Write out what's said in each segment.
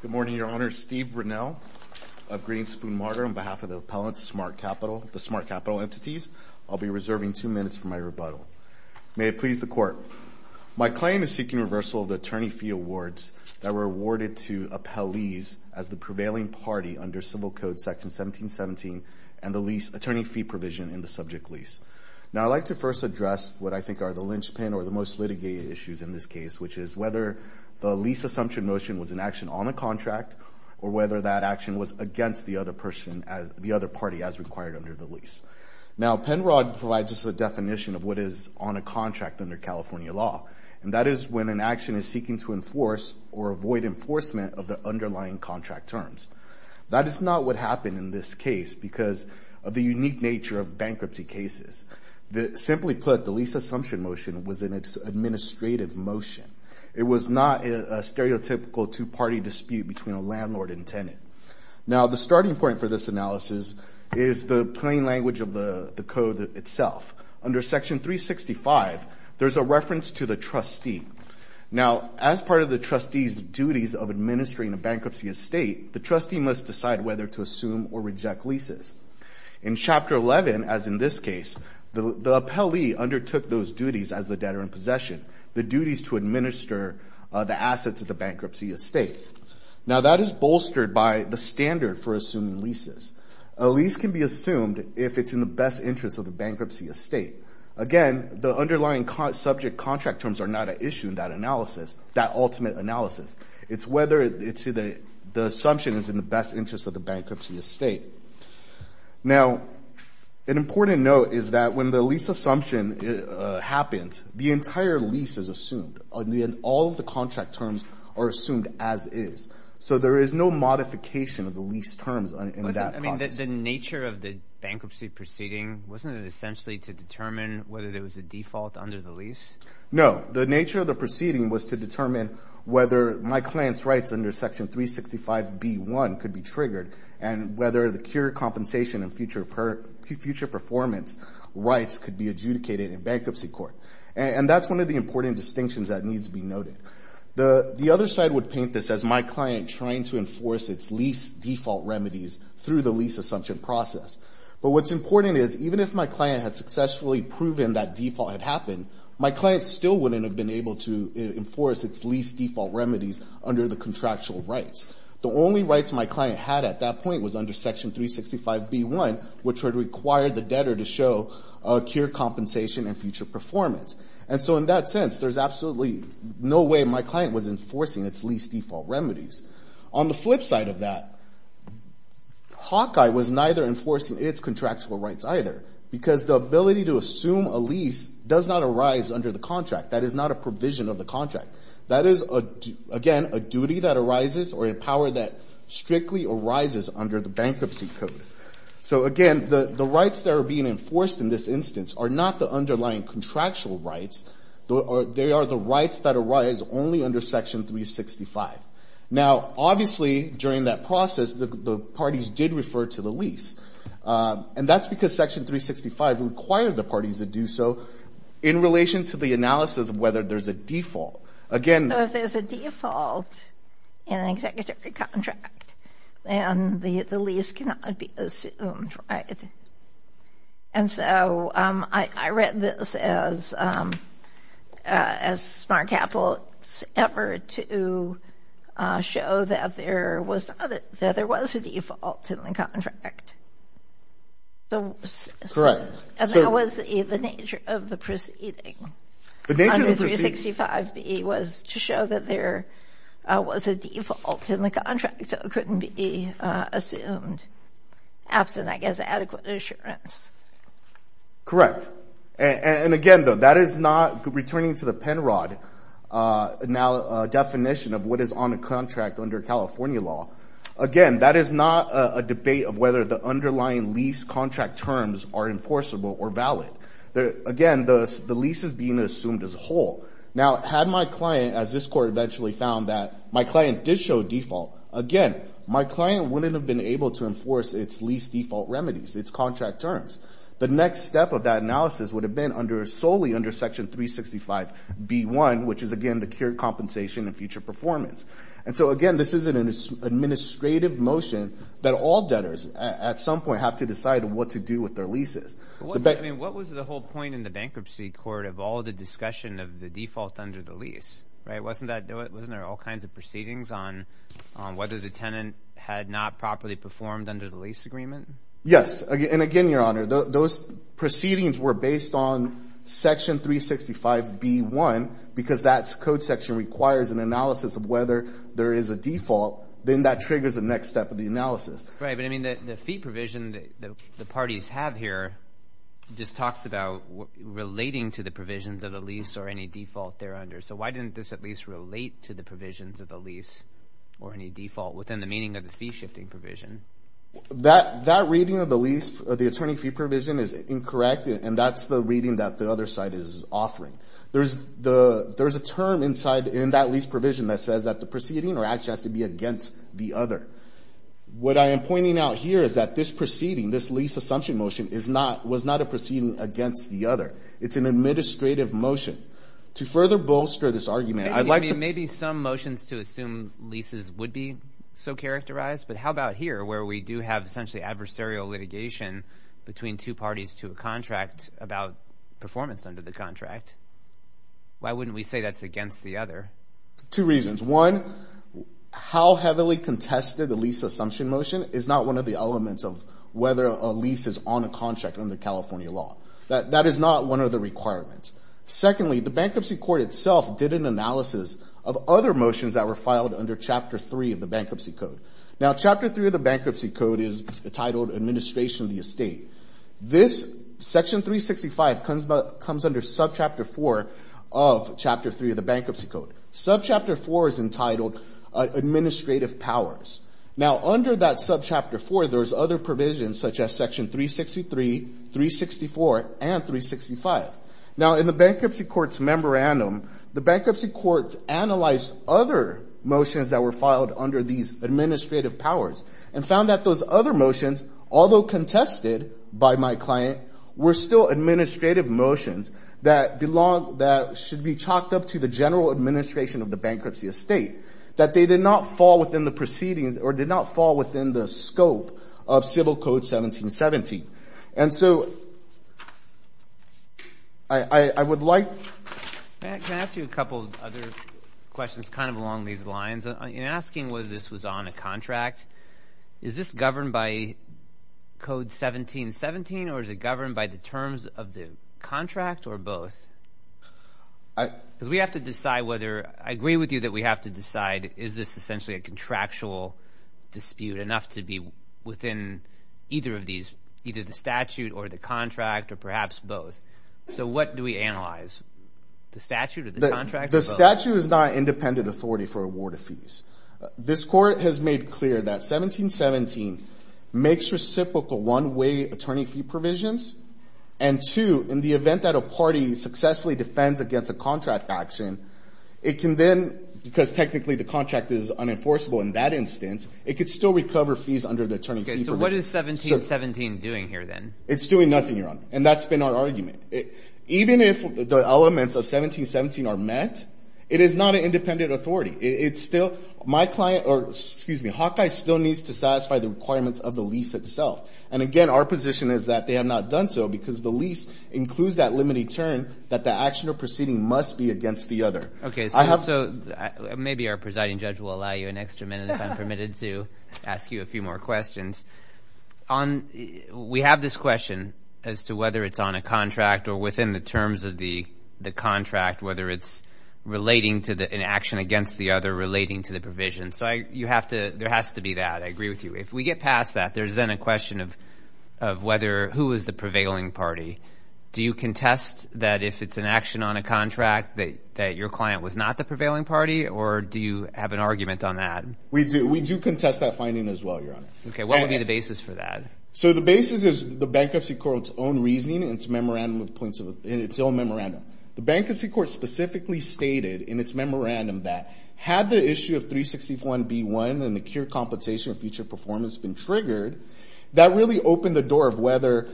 Good morning, Your Honor. Steve Brunell of Green Spoon Margaret on behalf of the appellant Smart Capital, the Smart Capital Entities. I'll be reserving two minutes for my rebuttal. May it please the court. My claim is seeking reversal of the attorney fee awards that were awarded to appellees as the prevailing party under civil code section 1717 and the lease attorney fee provision in the subject lease. Now I'd like to first address what I think are the linchpin or the most litigated issues in this case, which is whether the lease assumption motion was an action on a contract or whether that action was against the other party as required under the lease. Now Penrod provides us a definition of what is on a contract under California law and that is when an action is seeking to enforce or avoid enforcement of the underlying contract terms. That is not what happened in this case because of the unique nature of bankruptcy cases. Simply put, the lease assumption motion was in its administrative motion. It was not a stereotypical two-party dispute between a landlord and tenant. Now the starting point for this analysis is the plain language of the code itself. Under section 365, there's a reference to the trustee. Now as part of the trustee's duties of administering a bankruptcy estate, the trustee must decide whether to assume or reject leases. In chapter 11, as in this case, the appellee undertook those duties as the debtor in possession, the duties to administer the assets of the bankruptcy estate. Now that is bolstered by the standard for assuming leases. A lease can be assumed if it's in the best interest of the bankruptcy estate. Again, the underlying subject contract terms are not an issue in that analysis, that ultimate analysis. It's whether the assumption is in the best interest of the bankruptcy estate. Now an important note is that when the lease assumption happens, the entire lease is assumed. All of the contract terms are assumed as is. So there is no modification of the lease terms in that process. I mean, the nature of the bankruptcy proceeding, wasn't it essentially to determine whether there was a default under the lease? No. The nature of the proceeding was to determine whether my client's rights under Section 365B1 could be triggered and whether the cure compensation and future performance rights could be adjudicated in bankruptcy court. And that's one of the important distinctions that needs to be noted. The other side would paint this as my client trying to enforce its lease default remedies through the lease assumption process. But what's important is even if my client had successfully proven that default had happened, my client still wouldn't have been able to enforce its lease default remedies under the contractual rights. The only rights my client had at that point was under Section 365B1, which would require the debtor to show a cure compensation and future performance. And so in that sense, there's absolutely no way my client was enforcing its lease default remedies. On the flip side of that, Hawkeye was neither enforcing its contractual rights either because the ability to assume a lease does not arise under the contract. That is not a provision of the contract. That is, again, a duty that arises or a power that strictly arises under the bankruptcy code. So again, the rights that are being enforced in this instance are not the underlying contractual rights. They are the rights that arise only under Section 365. Now, obviously, during that process, the parties did refer to the lease. And that's because Section 365 required the parties to do so in relation to the analysis of whether there's a default. Again... If there's a default in an executive contract, then the lease cannot be assumed, right? And so I read this as smart capital's effort to show that there was a default in the contract. Correct. And that was the nature of the proceeding. Under 365B was to show that there was a default in the contract, so it couldn't be assumed. Absent, I guess, adequate assurance. Correct. And again, though, that is not returning to the Penrod definition of what is on a contract under California law. Again, that is not a debate of whether the underlying lease contract terms are enforceable or valid. Again, the lease is being assumed as a whole. Now, had my client, as this Court eventually found that my client did show default, again, my client wouldn't have been able to enforce its lease default remedies, its contract terms. The next step of that analysis would have been solely under Section 365B1, which is, again, the cure compensation and future performance. And so, again, this isn't an administrative motion that all debtors at some point have to decide what to do with their leases. What was the whole point in the bankruptcy court of all the discussion of the default under the lease, right? Wasn't there all kinds of proceedings on whether the tenant had not properly performed under the lease agreement? Yes. And again, Your Honor, those proceedings were based on Section 365B1 because that code section requires an analysis of whether there is a default. Then that triggers the next step of the analysis. Right. But, I mean, the fee provision that the parties have here just talks about relating to the provisions of the lease or any default they're under. So why didn't this at least relate to the provisions of the lease or any default within the meaning of the fee shifting provision? That reading of the lease, the attorney fee provision, is incorrect, and that's the reading that the other side is offering. There's a term inside in that lease provision that says that the proceeding or action has to be against the other. What I am pointing out here is that this proceeding, this lease assumption motion, was not a proceeding against the other. It's an administrative motion. To further bolster this argument, I'd like to... Maybe some motions to assume leases would be so characterized, but how about here where we do have essentially adversarial litigation between two parties to a contract about performance under the contract? Why wouldn't we say that's against the other? Two reasons. One, how heavily contested the lease assumption motion is not one of the elements of whether a lease is on a contract under California law. That is not one of the requirements. Secondly, the bankruptcy court itself did an analysis of other motions that were filed under Chapter 3 of the Bankruptcy Code. Now, Chapter 3 of the Bankruptcy Code is entitled Administration of the Estate. This, Section 365, comes under Subchapter 4 of Chapter 3 of the Bankruptcy Code. Subchapter 4 is entitled Administrative Powers. Now, under that Subchapter 4, there's other provisions such as Section 363, 364, and 365. Now, in the bankruptcy court's memorandum, the bankruptcy court analyzed other motions that were filed under these administrative powers and found that those other motions, although contested by my client, were still administrative motions that should be chalked up to the general administration of the bankruptcy estate, that they did not fall within the proceedings or did not fall within the scope of Civil Code 1717. And so, I would like... Can I ask you a couple of other questions kind of along these lines? In asking whether this was on a contract, is this governed by Code 1717 or is it governed by the terms of the contract or both? Because we have to decide whether... I agree with you that we have to decide is this essentially a contractual dispute enough to be within either of these, either the statute or the contract or perhaps both. So, what do we analyze? The statute or the contract or both? The statute is not independent authority for award of fees. This court has made clear that 1717 makes reciprocal one-way attorney fee provisions. And two, in the event that a party successfully defends against a contract action, it can then, because technically the contract is unenforceable in that instance, it could still recover fees under the attorney fee provisions. Okay, so what is 1717 doing here then? It's doing nothing, Your Honor, and that's been our argument. Even if the elements of 1717 are met, it is not an independent authority. It's still... My client, or excuse me, Hawkeye still needs to satisfy the requirements of the lease itself. And again, our position is that they have not done so because the lease includes that limited term that the action or proceeding must be against the other. Okay, so maybe our presiding judge will allow you an extra minute if I'm permitted to ask you a few more questions. We have this question as to whether it's on a contract or within the terms of the contract, whether it's relating to an action against the other relating to the provision. So there has to be that. I agree with you. If we get past that, there's then a question of who is the prevailing party. Do you contest that if it's an action on a contract that your client was not the prevailing party, or do you have an argument on that? We do. We do contest that finding as well, Your Honor. Okay, what would be the basis for that? So the basis is the Bankruptcy Court's own reasoning and its own memorandum. The Bankruptcy Court specifically stated in its memorandum that had the issue of 361B1 and the cure compensation feature performance been triggered, that really opened the door of whether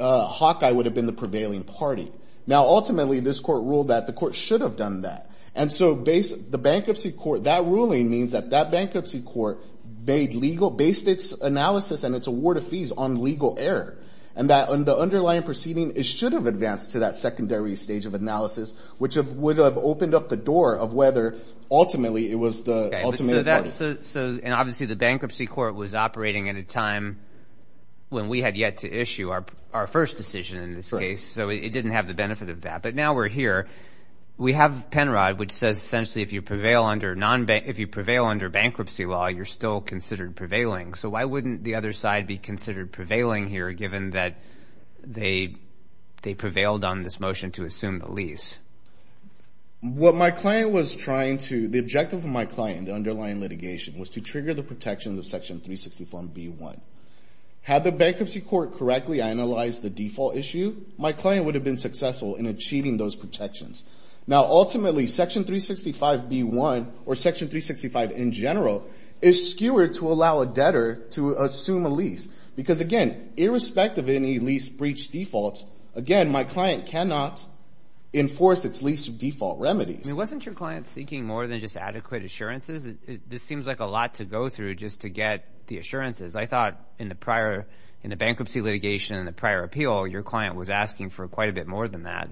Hawkeye would have been the prevailing party. Now, ultimately, this court ruled that the court should have done that. And so the Bankruptcy Court, that ruling means that that Bankruptcy Court based its analysis and its award of fees on legal error, and that on the underlying proceeding, it should have advanced to that secondary stage of analysis, which would have opened up the door of whether, ultimately, it was the ultimate party. So obviously, the Bankruptcy Court was operating at a time when we had yet to issue our first decision in this case. So it didn't have the benefit of that. But now we're here. We have Penrod, which says essentially, if you prevail under bankruptcy law, you're still considered prevailing. So why wouldn't the other side be considered prevailing here, given that they prevailed on this motion to assume the lease? What my client was trying to, the objective of my client, the underlying litigation, was to trigger the protections of Section 361B1. Had the Bankruptcy Court correctly analyzed the default issue, my client would have been successful in achieving those protections. Now, to allow a debtor to assume a lease, because again, irrespective of any lease breach defaults, again, my client cannot enforce its lease default remedies. Wasn't your client seeking more than just adequate assurances? This seems like a lot to go through just to get the assurances. I thought in the prior, in the bankruptcy litigation and the prior appeal, your client was asking for quite a bit more than that.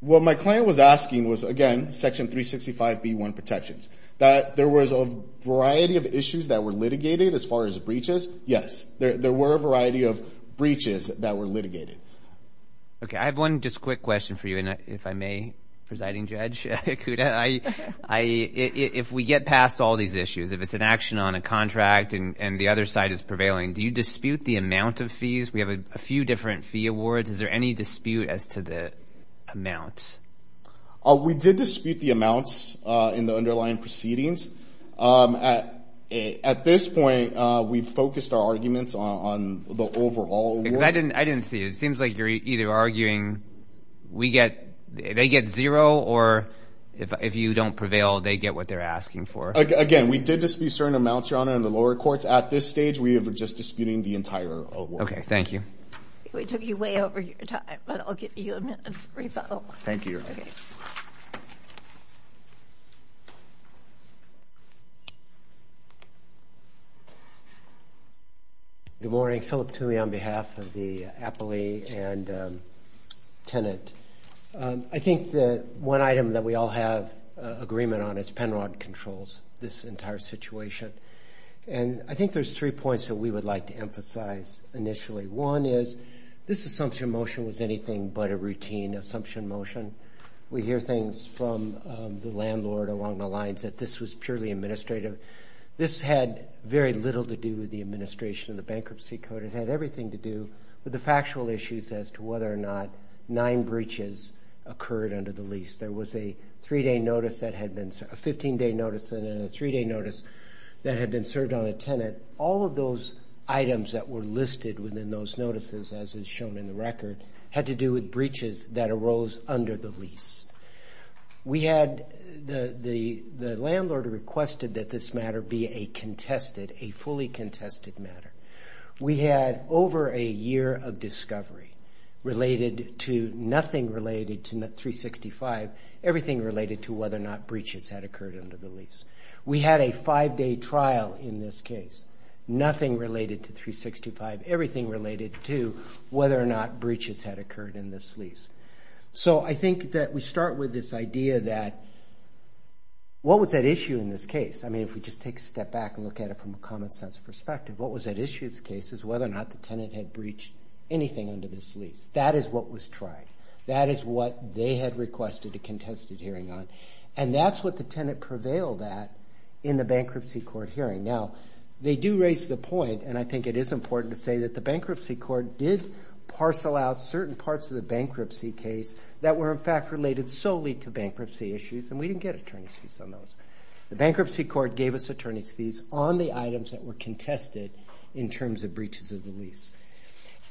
What my client was asking was, again, Section 365B1 protections, that there was a variety of issues that were litigated as far as breaches. Yes, there were a variety of breaches that were litigated. Okay, I have one just quick question for you, and if I may, Presiding Judge Ikuda, if we get past all these issues, if it's an action on a contract and the other side is prevailing, do you dispute the amount of fees? We have a few different fee awards. Is there any dispute as to the amounts? We did dispute the amounts in the underlying proceedings. At this point, we've focused our arguments on the overall awards. I didn't see it. It seems like you're either arguing we get, they get zero, or if you don't prevail, they get what they're asking for. Again, we did dispute certain amounts, Your Honor, in the lower courts. At this stage, we were just disputing the entire award. Okay, thank you. We took you way over your time, but I'll give you a minute of rebuttal. Thank you, Your Honor. Good morning. Philip Toomey on behalf of the appellee and tenant. I think the one item that we all have agreement on is Penrod Controls, this entire situation. And I think there's three points that we would like to emphasize initially. One is, this assumption motion was anything but a routine assumption motion. We hear things from the landlord along the lines that this was purely administrative. This had very little to do with the administration of the bankruptcy code. It had everything to do with the factual issues as to whether or not nine breaches occurred under the lease. There was a 15-day notice and then a three-day notice that had been served on a tenant. All of those items that were listed within those notices, as is shown in the record, had to do with breaches that arose under the lease. We had the landlord requested that this matter be a contested, a fully contested matter. We had over a year of discovery related to nothing related to 365, everything related to whether or not breaches had occurred under the lease. We had a five-day trial in this case, nothing related to 365, everything related to whether or not breaches had occurred in this lease. So I think that we start with this idea that, what was at issue in this case? I mean, if we just take a step back and look at it from a common sense perspective, what was at issue in this case is whether or not the tenant had breached anything under this lease. That is what was tried. That is what they had requested a contested hearing on. And that's what the tenant prevailed at in the bankruptcy court hearing. Now, they do raise the point, and I think it is important to say that the bankruptcy court did parcel out certain parts of the bankruptcy case that were in fact related solely to bankruptcy issues, and we didn't get attorney's fees on those. The bankruptcy court gave us attorney's fees on the items that were contested in terms of breaches of the lease.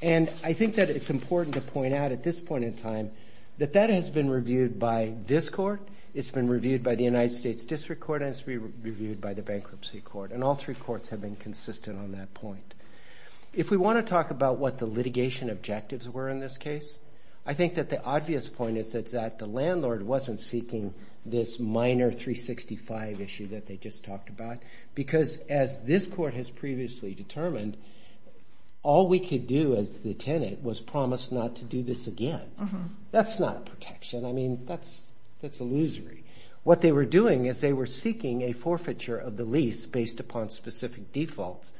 And I think that it's important to point out at this point in time that that has been reviewed by this court, it's been reviewed by the United States District Court, and it's been reviewed by the bankruptcy court, and all three courts have been consistent on that point. If we want to talk about what the litigation objectives were in this case, I think that the obvious point is that the landlord wasn't seeking this minor 365 issue that they just talked about, because as this court has previously determined, all we could do as the tenant was promise not to do this again. That's not protection. I mean, that's illusory. What they were doing is they were seeking a forfeiture of the lease based upon specific defaults.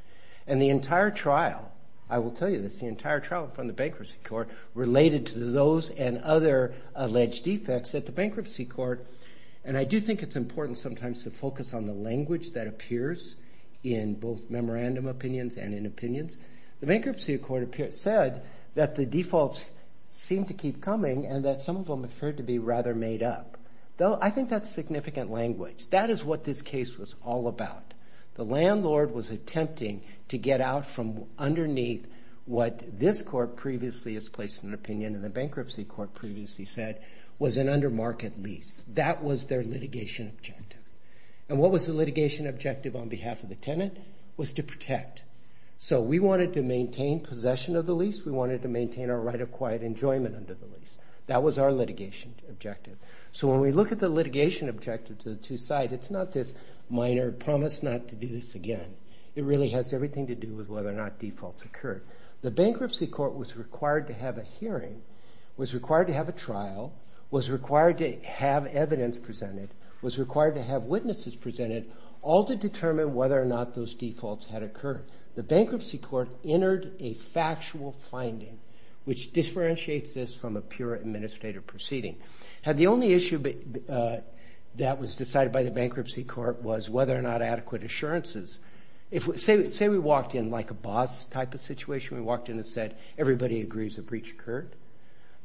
And the entire trial, I will tell you this, the entire trial from the bankruptcy court related to those and other alleged defects at the bankruptcy court. And I do think it's important sometimes to focus on the language that appears in both memorandum opinions and in opinions. The bankruptcy court said that the defaults seem to keep coming and that some of them are referred to be rather made up. Though, I think that's significant language. That is what this case was all about. The landlord was attempting to get out from underneath what this court previously has placed in an opinion and the bankruptcy court previously said was an under market lease. That was their litigation objective. And what was the litigation objective on behalf of the tenant? Was to protect. So we wanted to maintain possession of the lease. We wanted to maintain our right of quiet enjoyment under the lease. That was our litigation objective. So when we look at the litigation objective to the two sides, it's not this minor promise not to do this again. It really has everything to do with whether or not defaults occurred. The bankruptcy court was required to have a hearing, was required to have evidence presented, was required to have witnesses presented, all to determine whether or not those defaults had occurred. The bankruptcy court entered a factual finding which differentiates this from a pure administrative proceeding. Had the only issue that was decided by the bankruptcy court was whether or not adequate assurances. Say we walked in like a boss type of situation. We walked in and said everybody agrees a breach occurred.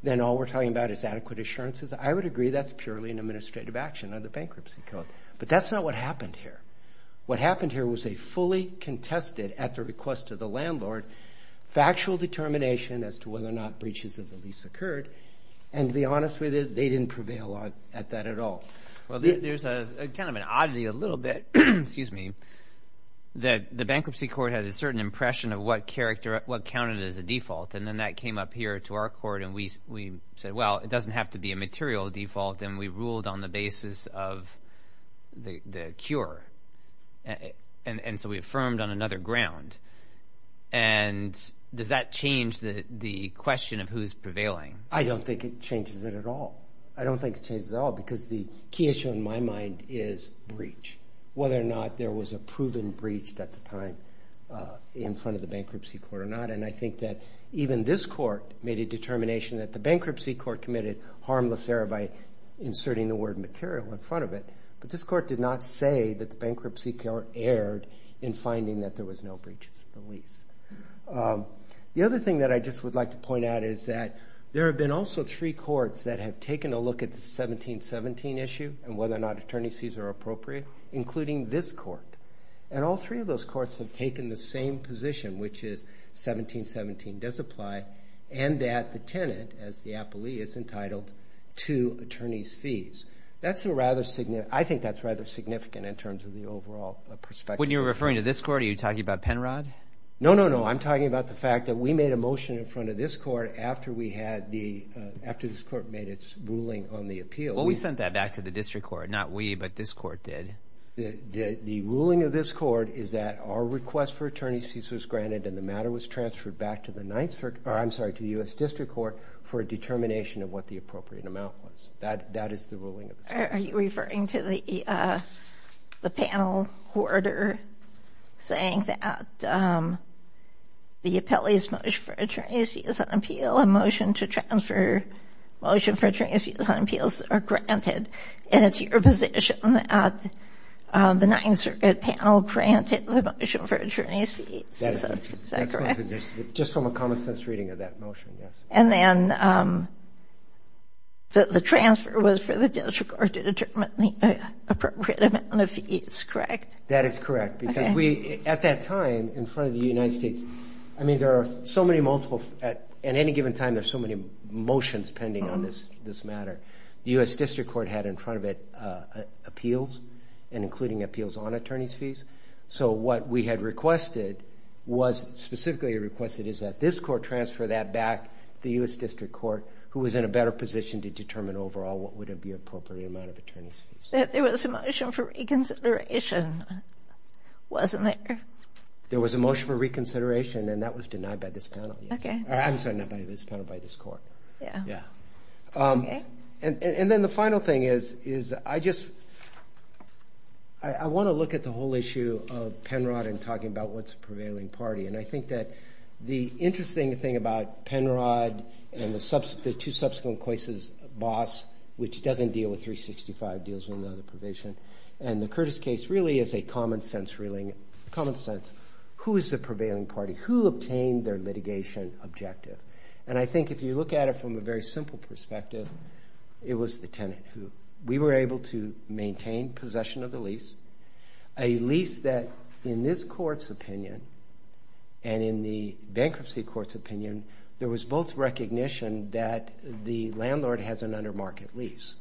Then all we're talking about is adequate assurances. I would agree that's purely an administrative action of the bankruptcy court. But that's not what happened here. What happened here was a fully contested, at the request of the landlord, factual determination as to whether or not breaches of the lease occurred. And to be honest with you, they didn't prevail at that at all. Well there's a kind of an oddity a little bit, excuse me, that the bankruptcy court has a certain impression of what character, what counted as a material default and we ruled on the basis of the cure. And so we affirmed on another ground. And does that change the question of who's prevailing? I don't think it changes it at all. I don't think it changes at all because the key issue in my mind is breach. Whether or not there was a proven breach at the time in front of the bankruptcy court or not. And I think that even this court made a determination that the bankruptcy court committed harmless error by inserting the word material in front of it. But this court did not say that the bankruptcy court erred in finding that there was no breaches of the lease. The other thing that I just would like to point out is that there have been also three courts that have taken a look at the 1717 issue and whether or not attorney's fees are appropriate, including this court. And all three of those courts have taken the same position, which is 1717 does apply and that the tenant as the appellee is entitled to attorney's fees. That's a rather significant, I think that's rather significant in terms of the overall perspective. When you're referring to this court, are you talking about Penrod? No, no, no. I'm talking about the fact that we made a motion in front of this court after we had the, after this court made its ruling on the appeal. Well, we sent that back to the district court, not we, but this court did. The ruling of this court is that our request for attorney's fees was granted and the matter was transferred back to the 9th, I'm sorry, to the U.S. District Court for a determination of what the appropriate amount was. That is the ruling. Are you referring to the panel hoarder saying that the appellee's motion for attorney's fees on appeal, a motion to transfer motion for attorney's fees on appeals are granted and it's your position that the 9th Circuit panel granted the motion for attorney's fees. Is that correct? Just from a common sense reading of that motion, yes. And then the transfer was for the district court to determine the appropriate amount of fees, correct? That is correct because we, at that time, in front of the United States, I mean there are so many multiple, at any given time, there's so many motions pending on this matter. The U.S. District Court had in front of it appeals and including appeals on attorney's fees. So what we had requested was, specifically requested, is that this court transfer that back to the U.S. District Court who was in a better position to determine overall what would it be appropriate amount of attorney's fees. There was a motion for reconsideration, wasn't there? There was a motion for reconsideration and that was denied by this panel. Okay. I'm sorry, not by this panel, by this court. Yeah. And then the final thing is, is I just, I want to look at the whole issue of Penrod and talking about what's a prevailing party. And I think that the interesting thing about Penrod and the two subsequent cases, Boss, which doesn't deal with 365, deals with another provision, and the Curtis case really is a common sense ruling, common sense. Who is the prevailing party? Who obtained their litigation objective? And I think if you look at it from a very simple perspective, it was the tenant who, we were able to maintain possession of the lease, a lease that in this court's opinion and in the bankruptcy court's opinion, there was both recognition that the landlord has an under-market lease.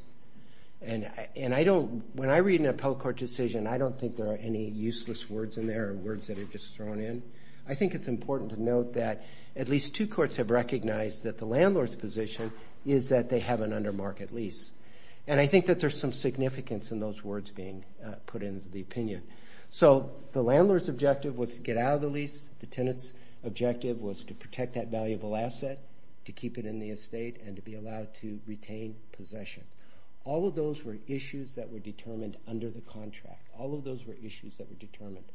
And I don't, when I read an appellate court decision, I don't think there are any useless words in there or words that are just thrown in. I think it's important to note that at least two courts have recognized that the landlord's position is that they have an under-market lease. And I think that there's some significance in those words being put into the opinion. So the landlord's objective was to get out of the lease. The tenant's objective was to protect that valuable asset, to keep it in the estate, and to be allowed to retain possession. All of those were issues that were determined under the contract. All of those were issues that were determined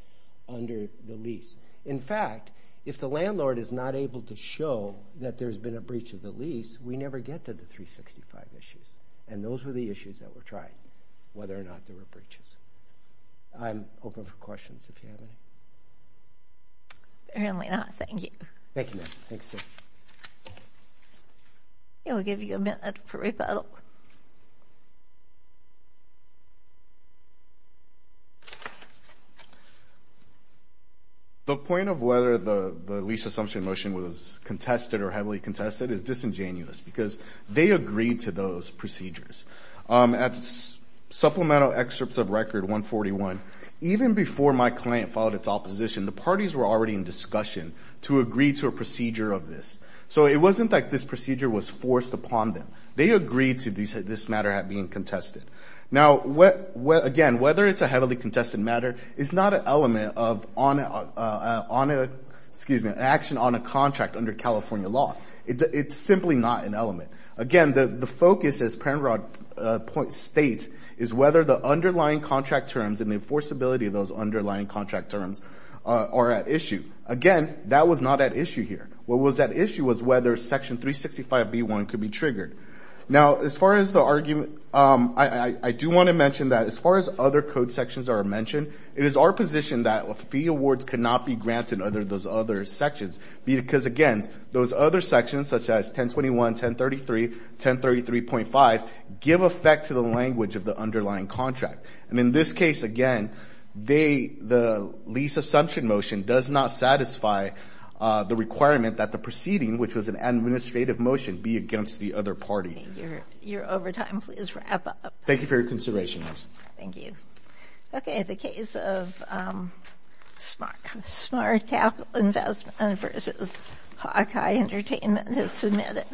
under the lease. In fact, if the landlord is not able to show that there's been a breach of the lease, we never get to the 365 issues. And those were the issues that were tried, whether or not there were breaches. I'm open for questions, if you have any. Apparently not. Thank you. Thank you, ma'am. Thanks. We'll give you a minute for rebuttal. The point of whether the lease assumption motion was contested or heavily contested is disingenuous, because they agreed to those procedures. At Supplemental Excerpts of Record 141, even before my client filed its opposition, the parties were already in discussion to agree to a procedure of this. So it wasn't like this procedure was forced upon them. They agreed to this matter being contested. Now, again, whether it's a heavily contested matter is not an element of action on a contract under California law. It's simply not an element. Again, the focus, as Penrod states, is whether the underlying contract terms and the enforceability of those underlying contract terms are at issue. Again, that was not at issue here. What was at issue was whether Section 365b1 could be triggered. Now, as far as the argument, I do want to mention that as far as other code sections are mentioned, it is our position that fee awards cannot be granted under those other sections. Because, again, those other sections, such as 1021, 1033, 1033.5, give effect to the language of the underlying contract. And in this case, again, the lease assumption motion does not satisfy the requirement that the proceeding, which was an administrative motion, be against the other party. Your overtime, please wrap up. Thank you for your consideration. Thank you. Okay, the case of smart capital investment versus Hawkeye Entertainment has submitted.